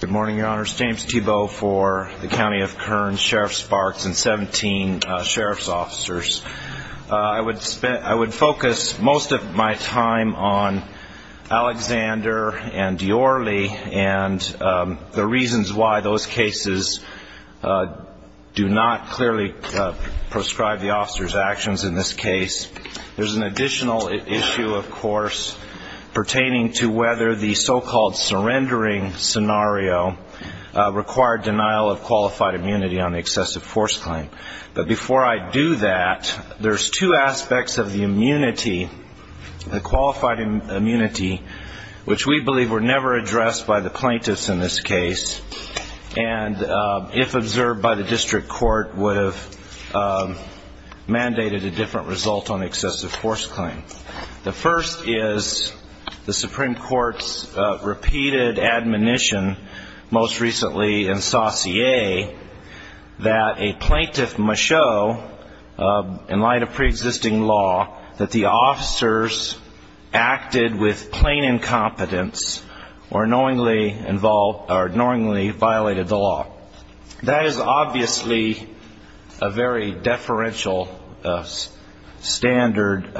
Good morning, Your Honors. James Thibault for the County of Kern, Sheriff Sparks, and 17 Sheriff's Officers. I would focus most of my time on Alexander and Diorre and the reasons why those cases do not clearly prescribe the officers' actions in this case. There's an additional issue, of course, pertaining to whether the so-called surrendering scenario required denial of qualified immunity on the excessive force claim. But before I do that, there's two aspects of the immunity, the qualified immunity, which we believe were never addressed by the plaintiffs in this case. And if observed by the district court, would have mandated a different result on excessive force claim. The first is the Supreme Court's repeated admonition, most recently in Saussure, that a plaintiff must show, in light of pre-existing law, that the officers acted with plain incompetence or knowingly violated the law. That is obviously a very deferential standard.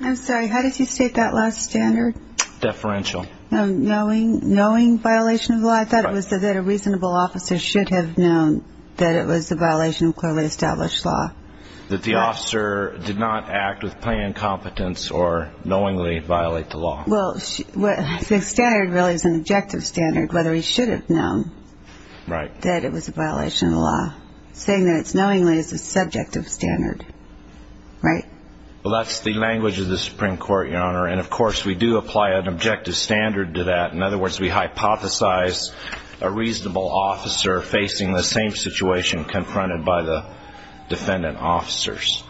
I'm sorry, how did you state that last standard? Deferential. Knowing violation of the law? I thought it was that a reasonable officer should have known that it was a violation of clearly established law. That the officer did not act with plain incompetence or knowingly violate the law. Well, the standard really is an objective standard, whether he should have known that it was a violation of the law. Saying that it's knowingly is a subjective standard, right? Well, that's the language of the Supreme Court, Your Honor, and of course we do apply an objective standard to that. In other words, we hypothesize a reasonable officer facing the same situation confronted by the defendant officers.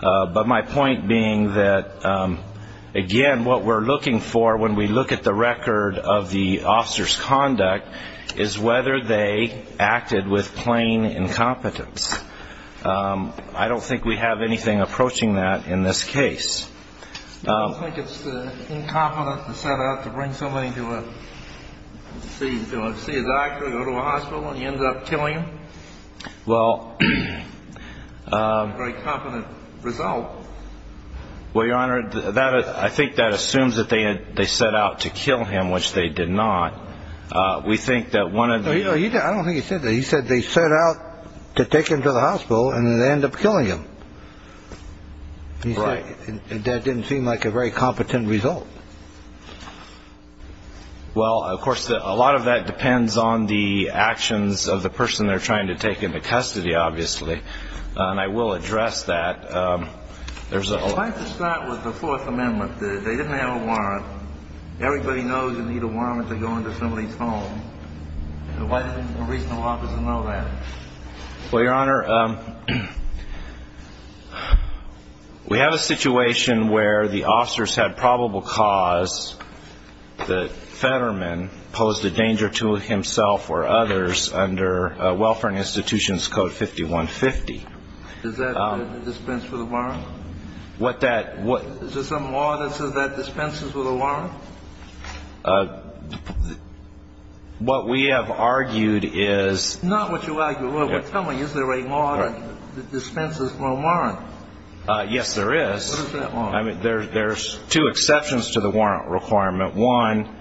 But my point being that, again, what we're looking for when we look at the record of the officer's conduct is whether they acted with plain incompetence. I don't think we have anything approaching that in this case. Do you think it's incompetent to set out to bring somebody to see a doctor, go to a hospital, and you end up killing him? Well. Very competent result. Well, Your Honor, I think that assumes that they set out to kill him, which they did not. We think that one of the. I don't think he said that. He said they set out to take him to the hospital and they end up killing him. Right. That didn't seem like a very competent result. Well, of course, a lot of that depends on the actions of the person they're trying to take into custody, obviously. And I will address that. I'd like to start with the Fourth Amendment. They didn't have a warrant. Everybody knows you need a warrant to go into somebody's home. Why doesn't a reasonable officer know that? Well, Your Honor, we have a situation where the officers had probable cause that Fetterman posed a danger to himself or others under Welfare and Institutions Code 5150. Is that a dispense with a warrant? What that. Is there some law that says that dispenses with a warrant? What we have argued is. Not what you argue. Tell me, is there a law that dispenses with a warrant? Yes, there is. What is that law? I mean, there's two exceptions to the warrant requirement. One,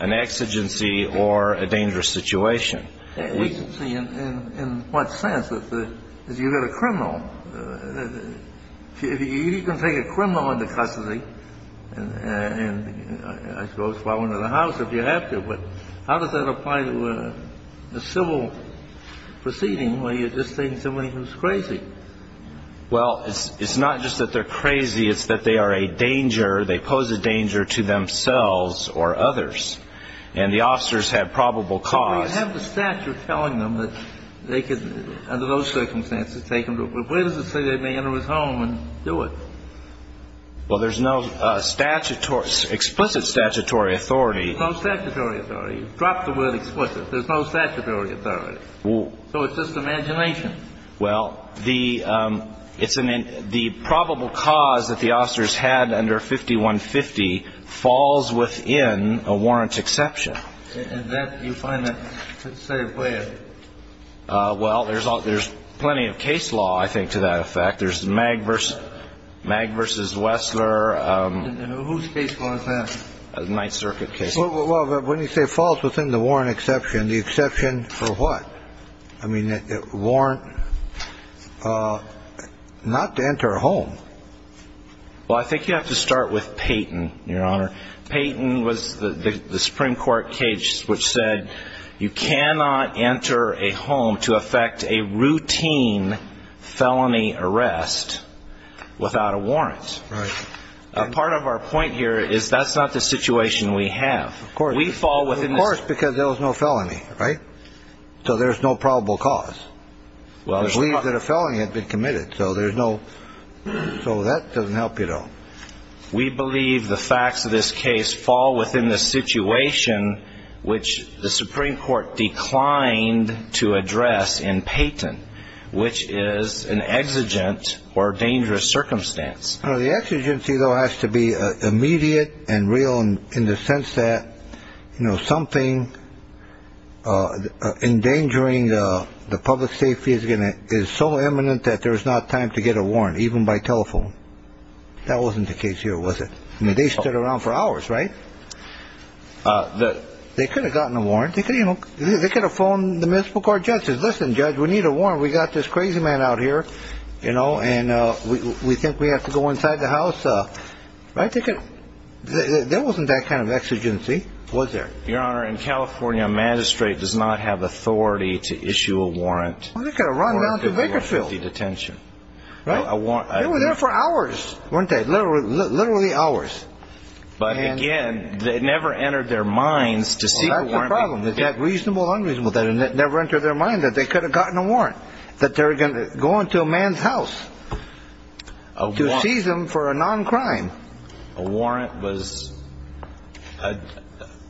an exigency or a dangerous situation. Exigency in what sense? Because you've got a criminal. You can take a criminal into custody and, I suppose, follow him to the house if you have to. But how does that apply to a civil proceeding where you're just taking somebody who's crazy? Well, it's not just that they're crazy. It's that they are a danger. They pose a danger to themselves or others. And the officers have probable cause. Well, you have the statute telling them that they could, under those circumstances, take him to a place. Where does it say they may enter his home and do it? Well, there's no explicit statutory authority. No statutory authority. You've dropped the word explicit. There's no statutory authority. So it's just imagination. Well, the probable cause that the officers had under 5150 falls within a warrant exception. And that you find that, say, where? Well, there's plenty of case law, I think, to that effect. There's Mag v. Wessler. Whose case law is that? Ninth Circuit case law. Well, when you say falls within the warrant exception, the exception for what? I mean, warrant not to enter a home. Well, I think you have to start with Peyton, Your Honor. Peyton was the Supreme Court case which said you cannot enter a home to effect a routine felony arrest without a warrant. Right. Part of our point here is that's not the situation we have. Of course. We fall within the... Of course, because there was no felony, right? So there's no probable cause. Well, there's not... We believe that a felony had been committed, so there's no... So that doesn't help you, though. We believe the facts of this case fall within the situation which the Supreme Court declined to address in Peyton, which is an exigent or dangerous circumstance. The exigency, though, has to be immediate and real in the sense that, you know, something endangering the public safety is so imminent that there's not time to get a warrant, even by telephone. That wasn't the case here, was it? I mean, they stood around for hours, right? They could have gotten a warrant. They could have phoned the municipal court judges. Listen, Judge, we need a warrant. We've got this crazy man out here, you know, and we think we have to go inside the house. Right? There wasn't that kind of exigency, was there? Your Honor, in California, a magistrate does not have authority to issue a warrant. Well, they could have run down to Bakerfield... Right? They were there for hours, weren't they? Literally hours. But, again, they never entered their minds to seek a warrant. Well, that's the problem, that reasonable, unreasonable. They never entered their mind that they could have gotten a warrant, that they were going to go into a man's house to seize him for a non-crime. A warrant was ñ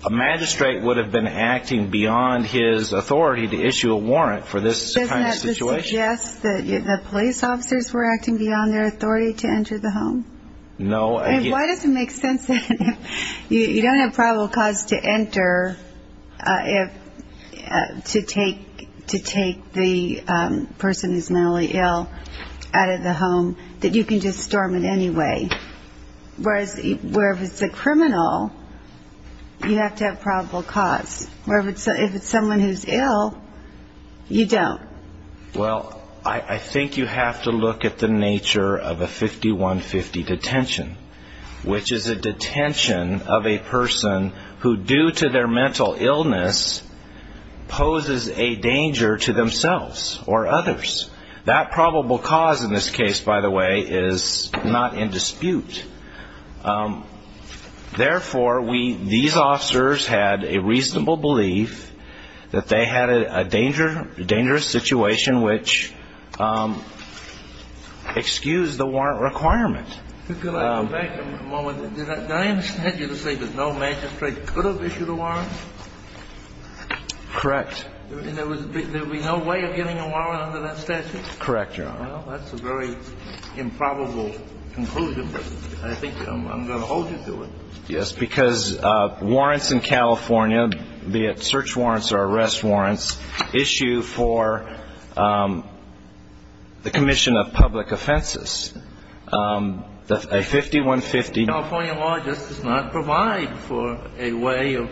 a magistrate would have been acting beyond his authority to issue a warrant for this kind of situation. Would you suggest that the police officers were acting beyond their authority to enter the home? No. Why does it make sense that if you don't have probable cause to enter, to take the person who's mentally ill out of the home, that you can just storm it anyway? Whereas if it's a criminal, you have to have probable cause. Whereas if it's someone who's ill, you don't. Well, I think you have to look at the nature of a 5150 detention, which is a detention of a person who, due to their mental illness, poses a danger to themselves or others. That probable cause in this case, by the way, is not in dispute. Therefore, we ñ these officers had a reasonable belief that they had a dangerous situation which excused the warrant requirement. Could I go back a moment? Did I understand you to say that no magistrate could have issued a warrant? Correct. And there would be no way of getting a warrant under that statute? Correct, Your Honor. Well, that's a very improbable conclusion. I think I'm going to hold you to it. Yes, because warrants in California, be it search warrants or arrest warrants, issue for the commission of public offenses. A 5150 in California law just does not provide for a way of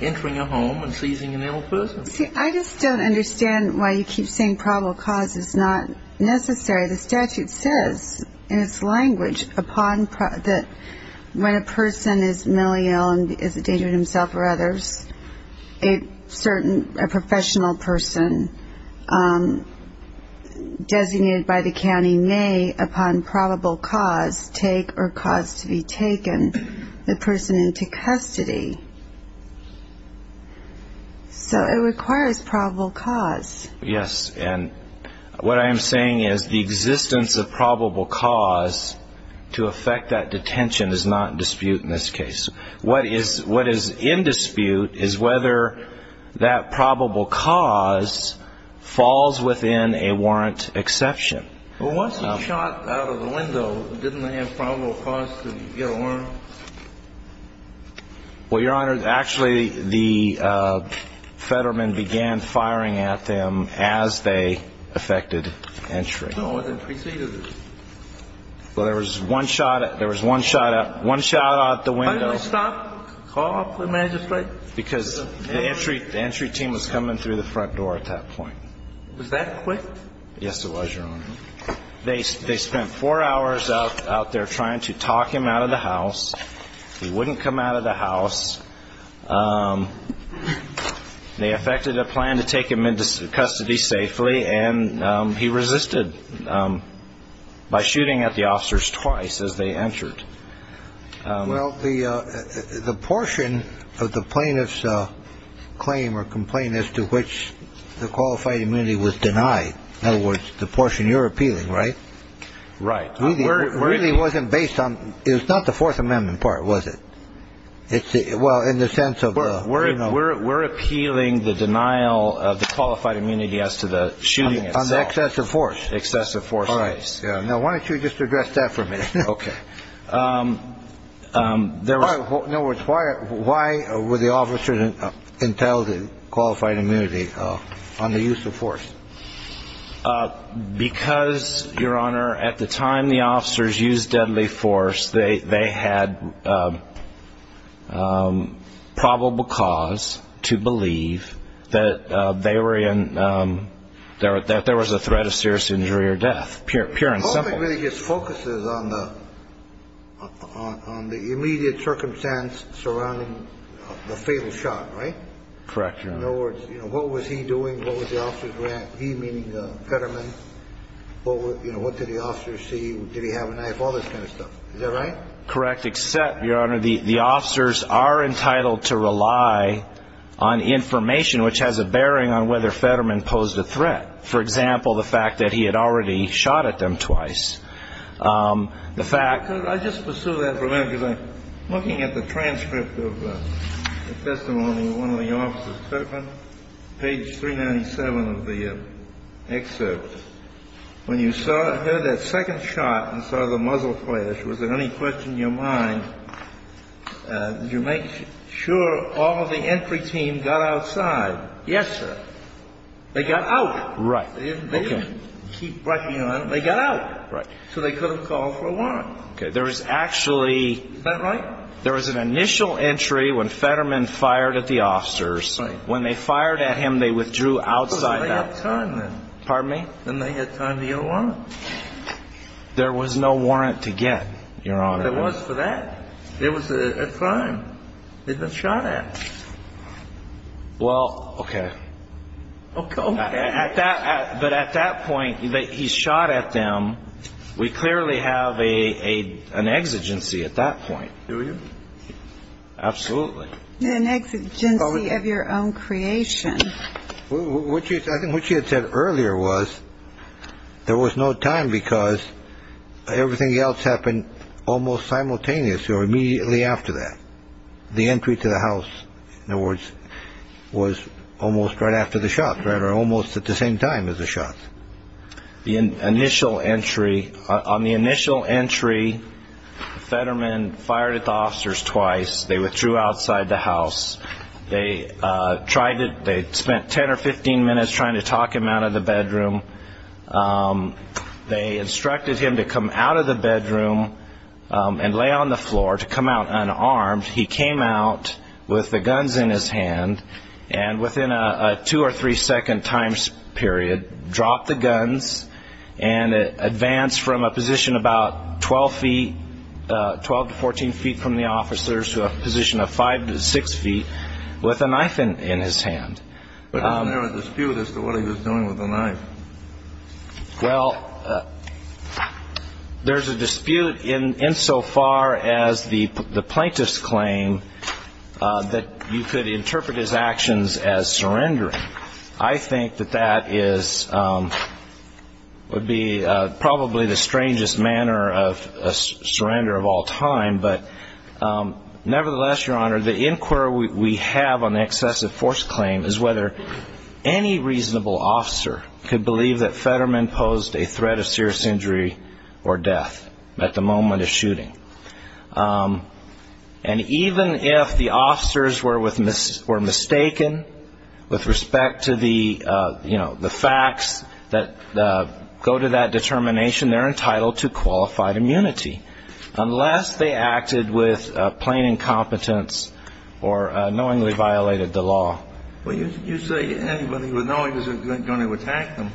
entering a home and seizing an ill person. See, I just don't understand why you keep saying probable cause is not necessary. The statute says in its language that when a person is mentally ill and is a danger to himself or others, a certain professional person designated by the county may, upon probable cause, take or cause to be taken the person into custody. So it requires probable cause. Yes. And what I am saying is the existence of probable cause to affect that detention is not in dispute in this case. What is in dispute is whether that probable cause falls within a warrant exception. Well, once he shot out of the window, didn't they have probable cause to get a warrant? Well, Your Honor, actually, the Fetterman began firing at them as they affected entry. No, it preceded it. Well, there was one shot out the window. Why did they stop? Call off the magistrate? Because the entry team was coming through the front door at that point. Was that quick? Yes, it was, Your Honor. They spent four hours out there trying to talk him out of the house. He wouldn't come out of the house. They effected a plan to take him into custody safely, and he resisted by shooting at the officers twice as they entered. Well, the portion of the plaintiff's claim or complaint as to which the qualified immunity was denied, in other words, the portion you're appealing, right? Right. It really wasn't based on. It was not the Fourth Amendment part, was it? Well, in the sense of. We're appealing the denial of the qualified immunity as to the shooting. On the excessive force. Excessive force case. Now, why don't you just address that for me? Okay. In other words, why were the officers entitled to qualified immunity on the use of force? Because, Your Honor, at the time the officers used deadly force, they had probable cause to believe that there was a threat of serious injury or death, pure and simple. Nothing really just focuses on the immediate circumstance surrounding the fatal shot, right? Correct, Your Honor. In other words, what was he doing? What was the officers doing? He, meaning Fetterman, what did the officers see? Did he have a knife? All this kind of stuff. Is that right? Correct, except, Your Honor, the officers are entitled to rely on information which has a bearing on whether Fetterman posed a threat. For example, the fact that he had already shot at them twice. The fact... Could I just pursue that for a minute? Because I'm looking at the transcript of the testimony of one of the officers, Fetterman, page 397 of the excerpt. When you heard that second shot and saw the muzzle flash, was there any question in your mind, did you make sure all of the entry team got outside? Yes, sir. They got out. Right. They didn't keep rushing on. They got out. Right. So they could have called for a warrant. Okay. There was actually... Is that right? There was an initial entry when Fetterman fired at the officers. Right. When they fired at him, they withdrew outside. They had time then. Pardon me? Then they had time to get a warrant. There was no warrant to get, Your Honor. There was for that. It was a crime. They'd been shot at. Well, okay. Okay. But at that point, he shot at them. We clearly have an exigency at that point. Do we? Absolutely. An exigency of your own creation. I think what she had said earlier was there was no time because everything else happened almost simultaneously or immediately after that. The entry to the house, in other words, was almost right after the shot, right? Or almost at the same time as the shot. The initial entry, on the initial entry, Fetterman fired at the officers twice. They withdrew outside the house. They spent 10 or 15 minutes trying to talk him out of the bedroom. They instructed him to come out of the bedroom and lay on the floor, to come out unarmed. He came out with the guns in his hand and within a two- or three-second time period dropped the guns and advanced from a position about 12 feet, 12 to 14 feet from the officers to a position of 5 to 6 feet with a knife in his hand. But isn't there a dispute as to what he was doing with the knife? Well, there's a dispute insofar as the plaintiff's claim that you could interpret his actions as surrendering. I think that that would be probably the strangest manner of surrender of all time. But nevertheless, Your Honor, the inquiry we have on the excessive force claim is whether any reasonable officer could believe that Fetterman posed a threat of serious injury or death at the moment of shooting. And even if the officers were mistaken with respect to the facts that go to that determination, they're entitled to qualified immunity unless they acted with plain incompetence or knowingly violated the law. Well, you say anybody would know he was going to attack them.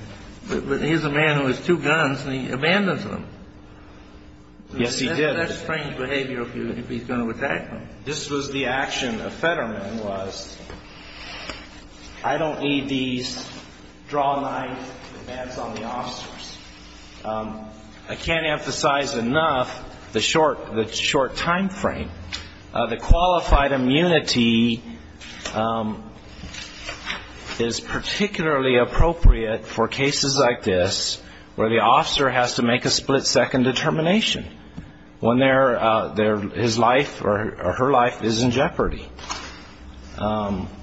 But here's a man who has two guns and he abandons them. Yes, he did. That's strange behavior if he's going to attack them. This was the action of Fetterman was, I don't need these drawknife demands on the officers. I can't emphasize enough the short time frame. The qualified immunity is particularly appropriate for cases like this where the officer has to make a split-second determination. When his life or her life is in jeopardy.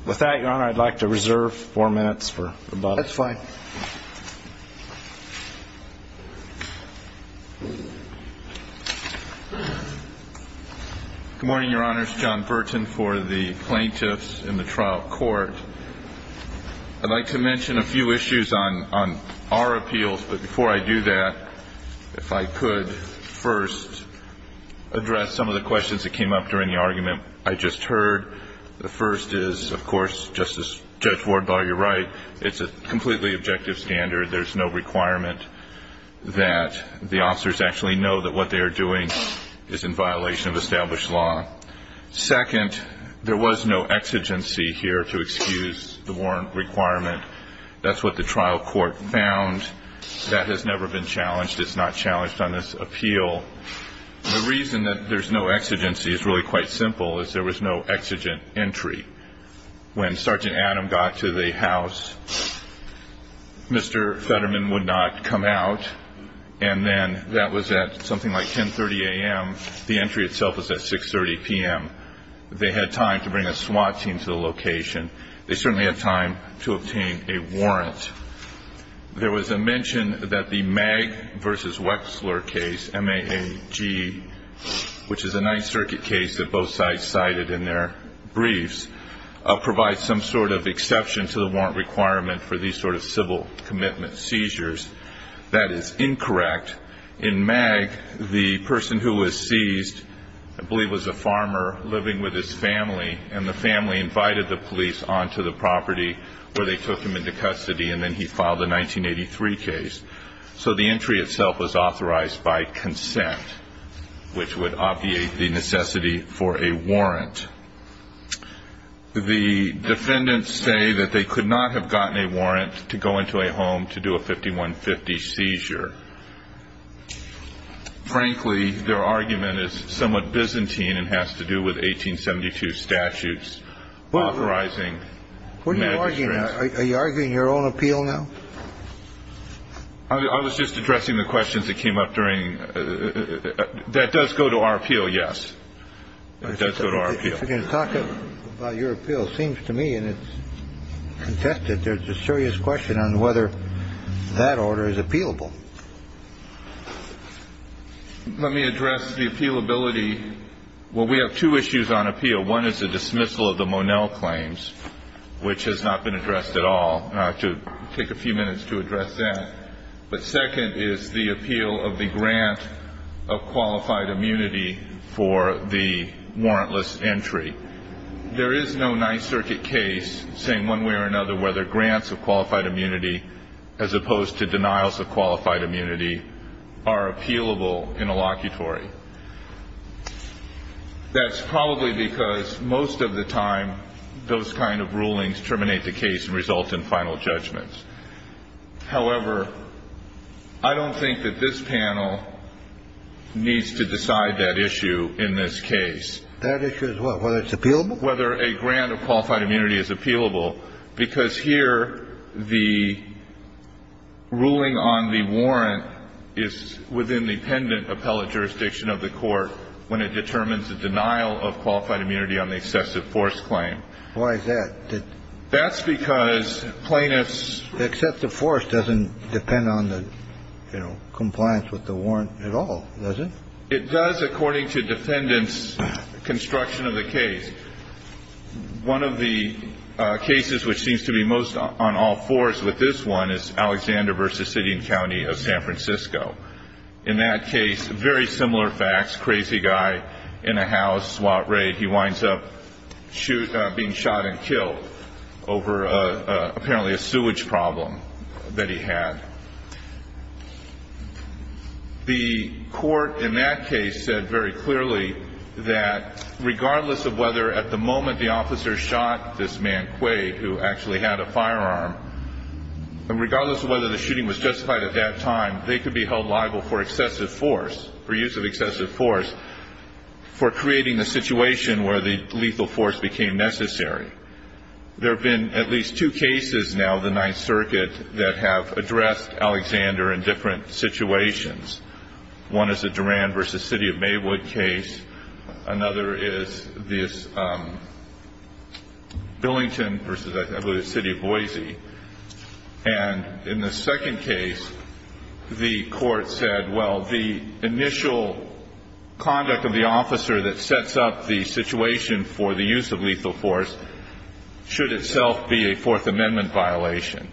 With that, Your Honor, I'd like to reserve four minutes for about a minute. That's fine. Good morning, Your Honors. John Burton for the plaintiffs in the trial court. I'd like to mention a few issues on our appeals. But before I do that, if I could first address some of the questions that came up during the argument I just heard. The first is, of course, Justice Judge Wardlaw, you're right, it's a completely objective standard. There's no requirement that the officers actually know that what they are doing is in violation of established law. Second, there was no exigency here to excuse the warrant requirement. That's what the trial court found. That has never been challenged. It's not challenged on this appeal. The reason that there's no exigency is really quite simple, is there was no exigent entry. When Sergeant Adam got to the house, Mr. Fetterman would not come out. And then that was at something like 10.30 a.m. The entry itself was at 6.30 p.m. They had time to bring a SWAT team to the location. They certainly had time to obtain a warrant. There was a mention that the Mag v. Wexler case, M-A-A-G, which is a Ninth Circuit case that both sides cited in their briefs, provides some sort of exception to the warrant requirement for these sort of civil commitment seizures. That is incorrect. In Mag, the person who was seized I believe was a farmer living with his family, and the family invited the police onto the property where they took him into custody, and then he filed a 1983 case. So the entry itself was authorized by consent, which would obviate the necessity for a warrant. The defendants say that they could not have gotten a warrant to go into a home to do a 5150 seizure. Frankly, their argument is somewhat Byzantine and has to do with 1872 statutes authorizing magistrates. Are you arguing your own appeal now? I was just addressing the questions that came up during. That does go to our appeal, yes. It does go to our appeal. If you're going to talk about your appeal, it seems to me, and it's contested, there's a serious question on whether that order is appealable. Let me address the appealability. Well, we have two issues on appeal. One is the dismissal of the Monell claims, which has not been addressed at all. I'll have to take a few minutes to address that. But second is the appeal of the grant of qualified immunity for the warrantless entry. There is no Ninth Circuit case saying one way or another whether grants of qualified immunity, as opposed to denials of qualified immunity, are appealable in a locutory. That's probably because most of the time, those kind of rulings terminate the case and result in final judgments. However, I don't think that this panel needs to decide that issue in this case. That issue is what? Whether it's appealable? Whether a grant of qualified immunity is appealable. I don't think it's appealable because here the ruling on the warrant is within the pendent appellate jurisdiction of the court when it determines the denial of qualified immunity on the excessive force claim. Why is that? That's because plaintiffs' accept the force doesn't depend on the, you know, compliance with the warrant at all, does it? It does according to defendants' construction of the case. One of the cases which seems to be most on all fours with this one is Alexander v. City and County of San Francisco. In that case, very similar facts, crazy guy in a house, SWAT raid. He winds up being shot and killed over apparently a sewage problem that he had. The court in that case said very clearly that regardless of whether at the moment the officer shot this man, Quade, who actually had a firearm, and regardless of whether the shooting was justified at that time, they could be held liable for excessive force, for use of excessive force, for creating the situation where the lethal force became necessary. There have been at least two cases now of the Ninth Circuit that have addressed Alexander in different situations. One is the Duran v. City of Maywood case. Another is this Billington v. I believe it's City of Boise. And in the second case, the court said, well, the initial conduct of the officer that sets up the situation for the use of lethal force should itself be a Fourth Amendment violation.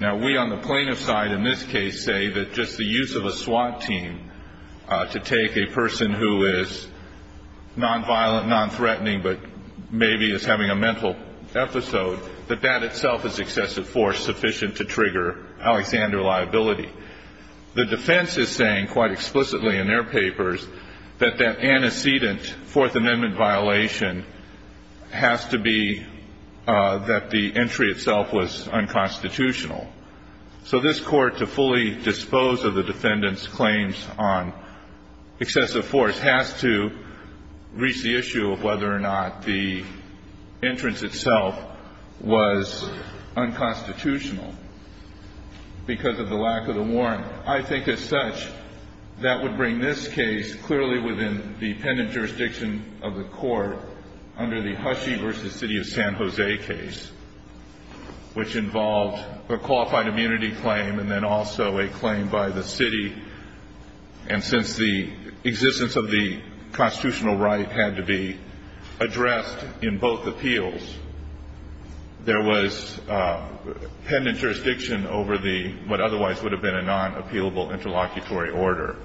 Now, we on the plaintiff's side in this case say that just the use of a SWAT team to take a person who is nonviolent, nonthreatening, but maybe is having a mental episode, that that itself is excessive force sufficient to trigger Alexander liability. The defense is saying, quite explicitly in their papers, that that antecedent Fourth Amendment violation has to be that the entry itself was unconstitutional. So this Court, to fully dispose of the defendant's claims on excessive force, has to reach the issue of whether or not the entrance itself was unconstitutional. Because of the lack of the warrant. I think, as such, that would bring this case clearly within the pendent jurisdiction of the court under the Hushey v. City of San Jose case, which involved a qualified immunity claim and then also a claim by the city. And since the existence of the constitutional right had to be addressed in both appeals, there was pendent jurisdiction over what otherwise would have been a non-appealable interlocutory order.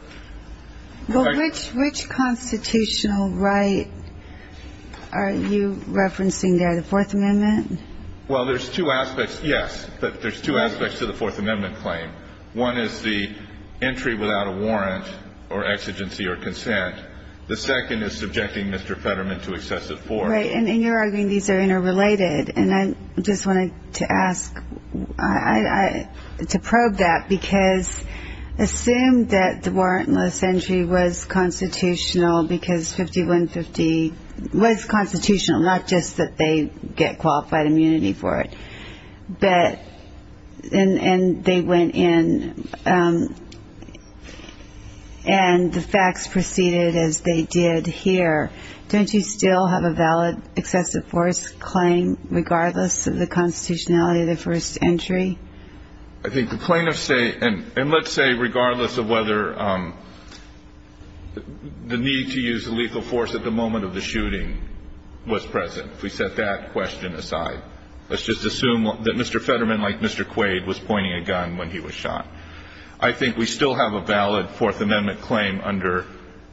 But which constitutional right are you referencing there? The Fourth Amendment? Well, there's two aspects, yes. But there's two aspects to the Fourth Amendment claim. One is the entry without a warrant or exigency or consent. The second is subjecting Mr. Fetterman to excessive force. Right, and you're arguing these are interrelated. And I just wanted to ask, to probe that, because assume that the warrantless entry was constitutional because 5150 was constitutional, not just that they get qualified immunity for it, and they went in and the facts proceeded as they did here. Don't you still have a valid excessive force claim regardless of the constitutionality of the first entry? I think the plaintiffs say, and let's say regardless of whether the need to use lethal force at the moment of the shooting was present, if we set that question aside. Let's just assume that Mr. Fetterman, like Mr. Quaid, was pointing a gun when he was shot. I think we still have a valid Fourth Amendment claim under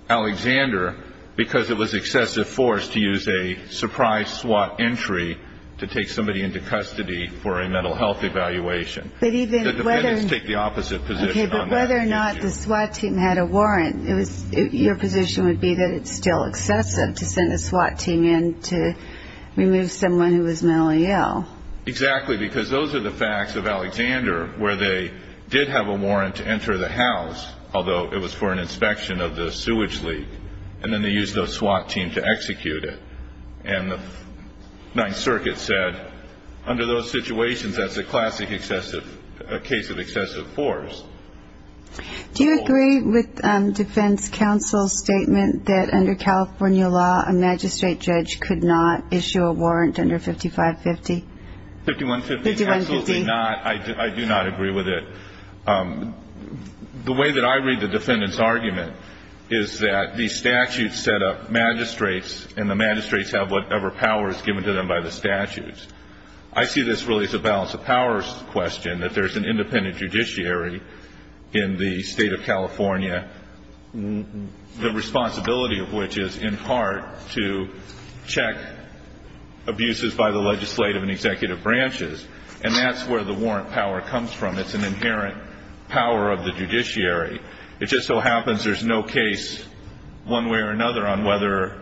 Alexander because it was excessive force to use a surprise SWAT entry to take somebody into custody for a mental health evaluation. The defendants take the opposite position on that issue. Okay, but whether or not the SWAT team had a warrant, your position would be that it's still excessive to send a SWAT team in to remove someone who was mentally ill. Exactly, because those are the facts of Alexander where they did have a warrant to enter the house, although it was for an inspection of the sewage leak, and then they used the SWAT team to execute it. And the Ninth Circuit said under those situations, that's a classic case of excessive force. Do you agree with defense counsel's statement that under California law, a magistrate judge could not issue a warrant under 5550? 5150, absolutely not. I do not agree with it. The way that I read the defendant's argument is that the statute set up magistrates, and the magistrates have whatever power is given to them by the statutes. I see this really as a balance of powers question, that there's an independent judiciary in the state of California, the responsibility of which is in part to check abuses by the legislative and executive branches, and that's where the warrant power comes from. It's an inherent power of the judiciary. It just so happens there's no case one way or another on whether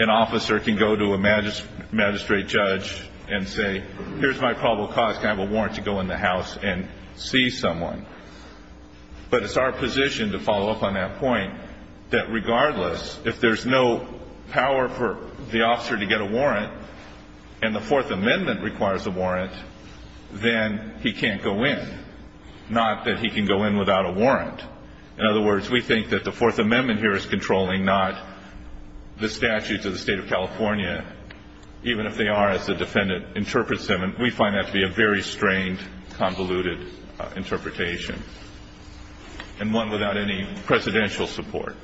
an officer can go to a magistrate judge and say, here's my probable cause to have a warrant to go in the house and see someone. But it's our position to follow up on that point, that regardless, if there's no power for the officer to get a warrant, and the Fourth Amendment requires a warrant, then he can't go in, not that he can go in without a warrant. In other words, we think that the Fourth Amendment here is controlling, not the statutes of the state of California, even if they are, as the defendant interprets them. And we find that to be a very strained, convoluted interpretation, and one without any presidential support.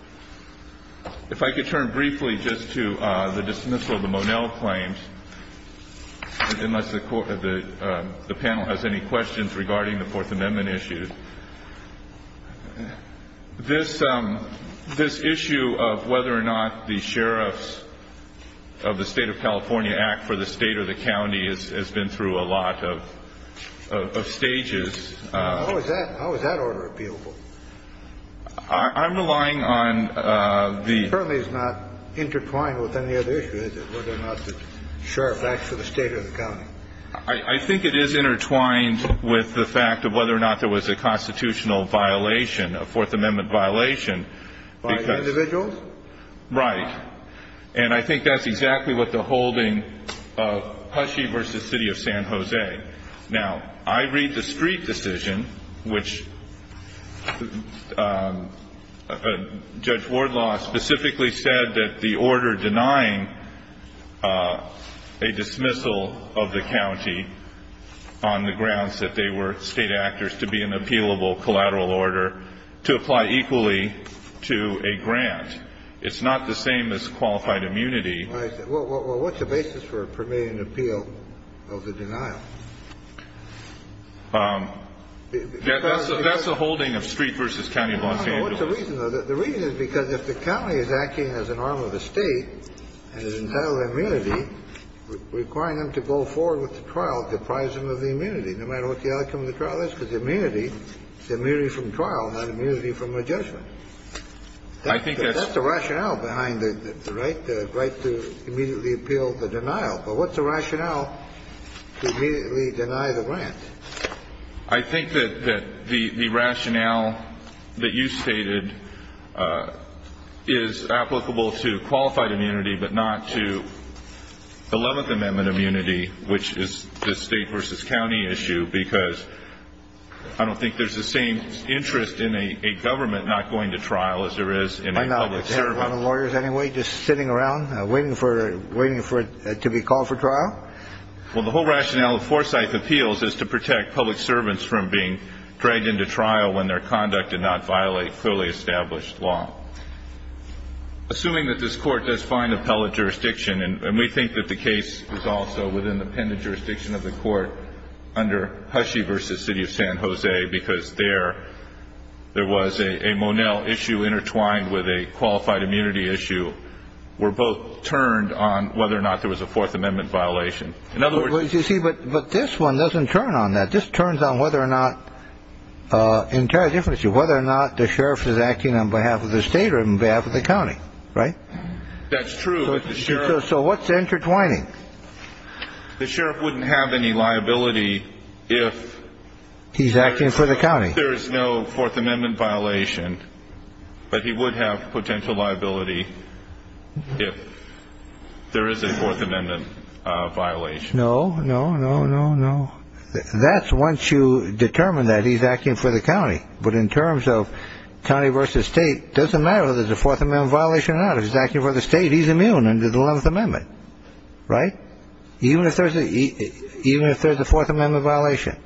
If I could turn briefly just to the dismissal of the Monell claims, unless the panel has any questions regarding the Fourth Amendment issues. This issue of whether or not the sheriffs of the state of California act for the state or the county has been through a lot of stages. How is that order appealable? I'm relying on the- It certainly is not intertwined with any other issue, is it? Whether or not the sheriff acts for the state or the county. I think it is intertwined with the fact of whether or not there was a constitutional violation, a Fourth Amendment violation. By individuals? Right. And I think that's exactly what the holding of Hushey v. City of San Jose. Now, I read the street decision, which Judge Wardlaw specifically said that the order denying a dismissal of the county on the grounds that they were state actors to be an appealable collateral order to apply equally to a grant. It's not the same as qualified immunity. Well, what's the basis for permitting an appeal of the denial? That's the holding of Street v. County of Los Angeles. What's the reason? The reason is because if the county is acting as an arm of the state and is entitled to immunity, requiring them to go forward with the trial deprives them of the immunity, no matter what the outcome of the trial is, because immunity is immunity from trial, not immunity from a judgment. I think that's the rationale behind the right to immediately appeal the denial. But what's the rationale to immediately deny the grant? I think that the rationale that you stated is applicable to qualified immunity but not to the Eleventh Amendment immunity, which is the state v. county issue, because I don't think there's the same interest in a government not going to trial as there is in a public servant. I know, but is that one of the lawyers anyway, just sitting around waiting for it to be called for trial? Well, the whole rationale of Forsyth Appeals is to protect public servants from being dragged into trial when their conduct did not violate fully established law. Assuming that this court does find appellate jurisdiction, and we think that the case is also within the pendent jurisdiction of the court under Hushey v. City of San Jose, because there was a Monell issue intertwined with a qualified immunity issue, we're both turned on whether or not there was a Fourth Amendment violation. In other words, you see, but this one doesn't turn on that. This turns on whether or not the sheriff is acting on behalf of the state or on behalf of the county, right? That's true. So what's the intertwining? The sheriff wouldn't have any liability if he's acting for the county. There is no Fourth Amendment violation, but he would have potential liability if there is a Fourth Amendment violation. No, no, no, no, no. That's once you determine that he's acting for the county. But in terms of county versus state, it doesn't matter whether there's a Fourth Amendment violation or not. If he's acting for the state, he's immune under the Eleventh Amendment, right? Even if there's a Fourth Amendment violation,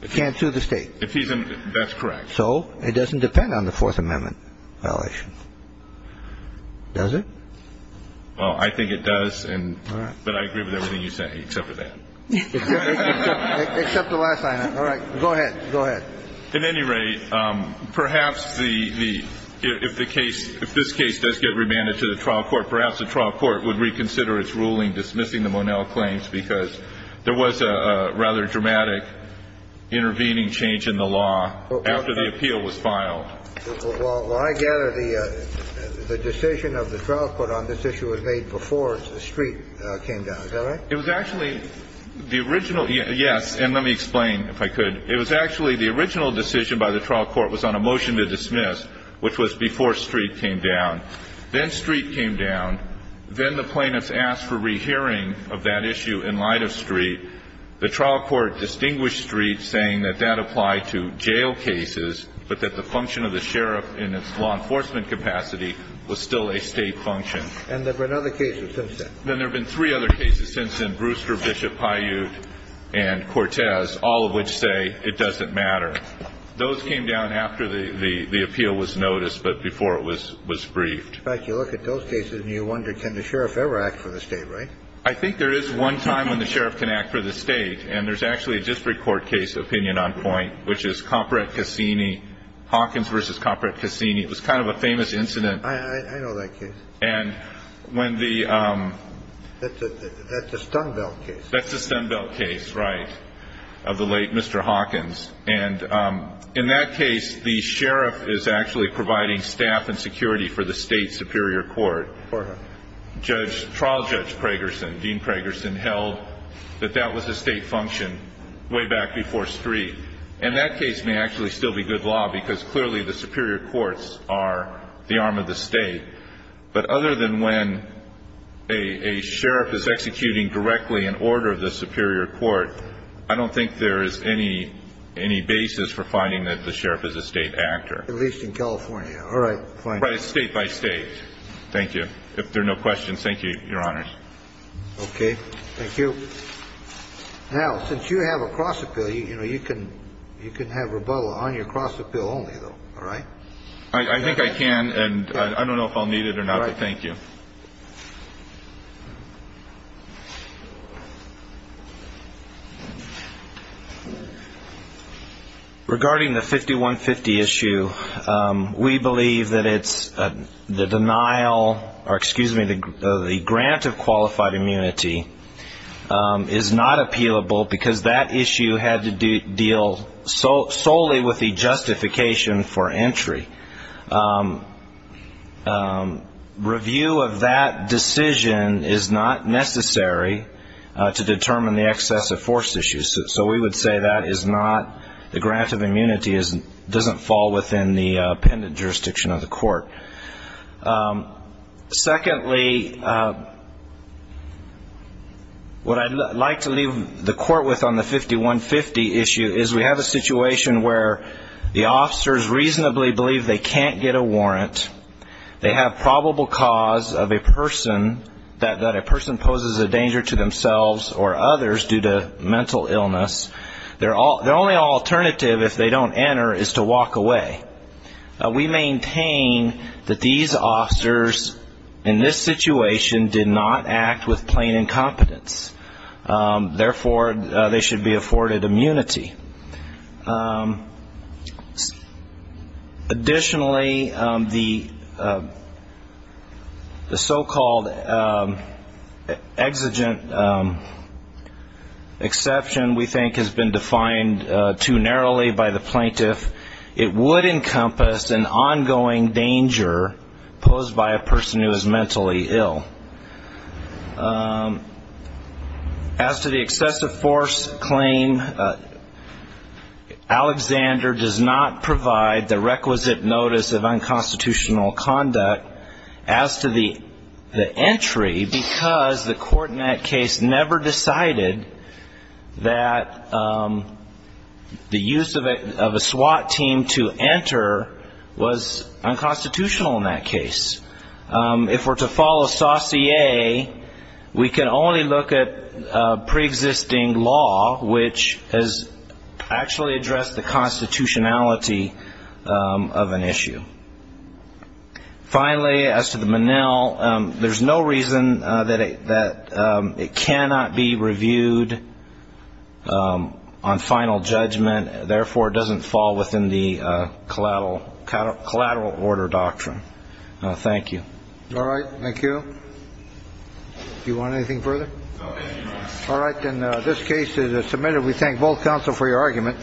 he can't sue the state. That's correct. So it doesn't depend on the Fourth Amendment violation, does it? Well, I think it does. All right. But I agree with everything you say, except for that. Except the last line. All right. Go ahead. Go ahead. At any rate, perhaps the – if the case – if this case does get remanded to the trial court, perhaps the trial court would reconsider its ruling dismissing the Monel claims because there was a rather dramatic intervening change in the law after the appeal was filed. Well, I gather the decision of the trial court on this issue was made before the street came down. Is that right? It was actually the original – yes. And let me explain, if I could. It was actually the original decision by the trial court was on a motion to dismiss, which was before street came down. Then street came down. Then the plaintiffs asked for rehearing of that issue in light of street. The trial court distinguished street, saying that that applied to jail cases, but that the function of the sheriff in its law enforcement capacity was still a State function. And there were other cases since then. Then there have been three other cases since then, Brewster, Bishop, Paiute and Cortez, all of which say it doesn't matter. Those came down after the appeal was noticed, but before it was briefed. In fact, you look at those cases and you wonder, can the sheriff ever act for the State, right? I think there is one time when the sheriff can act for the State, and there's actually a district court case opinion on point, which is Comprete Cassini, Hawkins v. Comprete Cassini. It was kind of a famous incident. I know that case. And when the – That's the Stumbelt case. That's the Stumbelt case, right, of the late Mr. Hawkins. And in that case, the sheriff is actually providing staff and security for the State superior court. For who? Judge – trial judge Pragerson, Dean Pragerson, held that that was a State function way back before Street. And that case may actually still be good law because clearly the superior courts are the arm of the State. But other than when a sheriff is executing directly in order of the superior court, I don't think there is any basis for finding that the sheriff is a State actor. At least in California. All right. State by State. Thank you. If there are no questions, thank you, Your Honors. Okay. Thank you. Now, since you have a cross-appeal, you know, you can have rebuttal on your cross-appeal only, though. All right? I think I can. And I don't know if I'll need it or not, but thank you. Thank you. Regarding the 5150 issue, we believe that it's – the denial – or excuse me, the grant of qualified immunity is not appealable because that issue had to deal solely with the justification for entry. Review of that decision is not necessary to determine the excess of forced issues. So we would say that is not – the grant of immunity doesn't fall within the appended jurisdiction of the court. Secondly, what I'd like to leave the court with on the 5150 issue is we have a reasonable belief they can't get a warrant, they have probable cause of a person – that a person poses a danger to themselves or others due to mental illness. Their only alternative, if they don't enter, is to walk away. We maintain that these officers in this situation did not act with plain incompetence. Therefore, they should be afforded immunity. Additionally, the so-called exigent exception, we think, has been defined too narrowly by the plaintiff. It would encompass an ongoing danger posed by a person who is mentally ill. As to the excessive force claim, Alexander does not provide the requisite notice of unconstitutional conduct as to the entry because the court in that case never decided that the use of a SWAT team to enter was unconstitutional in that case. If we're to follow Saussure, we can only look at preexisting law, which has actually addressed the constitutionality of an issue. Finally, as to the Menil, there's no reason that it cannot be reviewed on final judgment. Therefore, it doesn't fall within the collateral order doctrine. Thank you. All right. Thank you. Do you want anything further? No, thank you, Your Honor. All right. Then this case is submitted. We thank both counsel for your argument.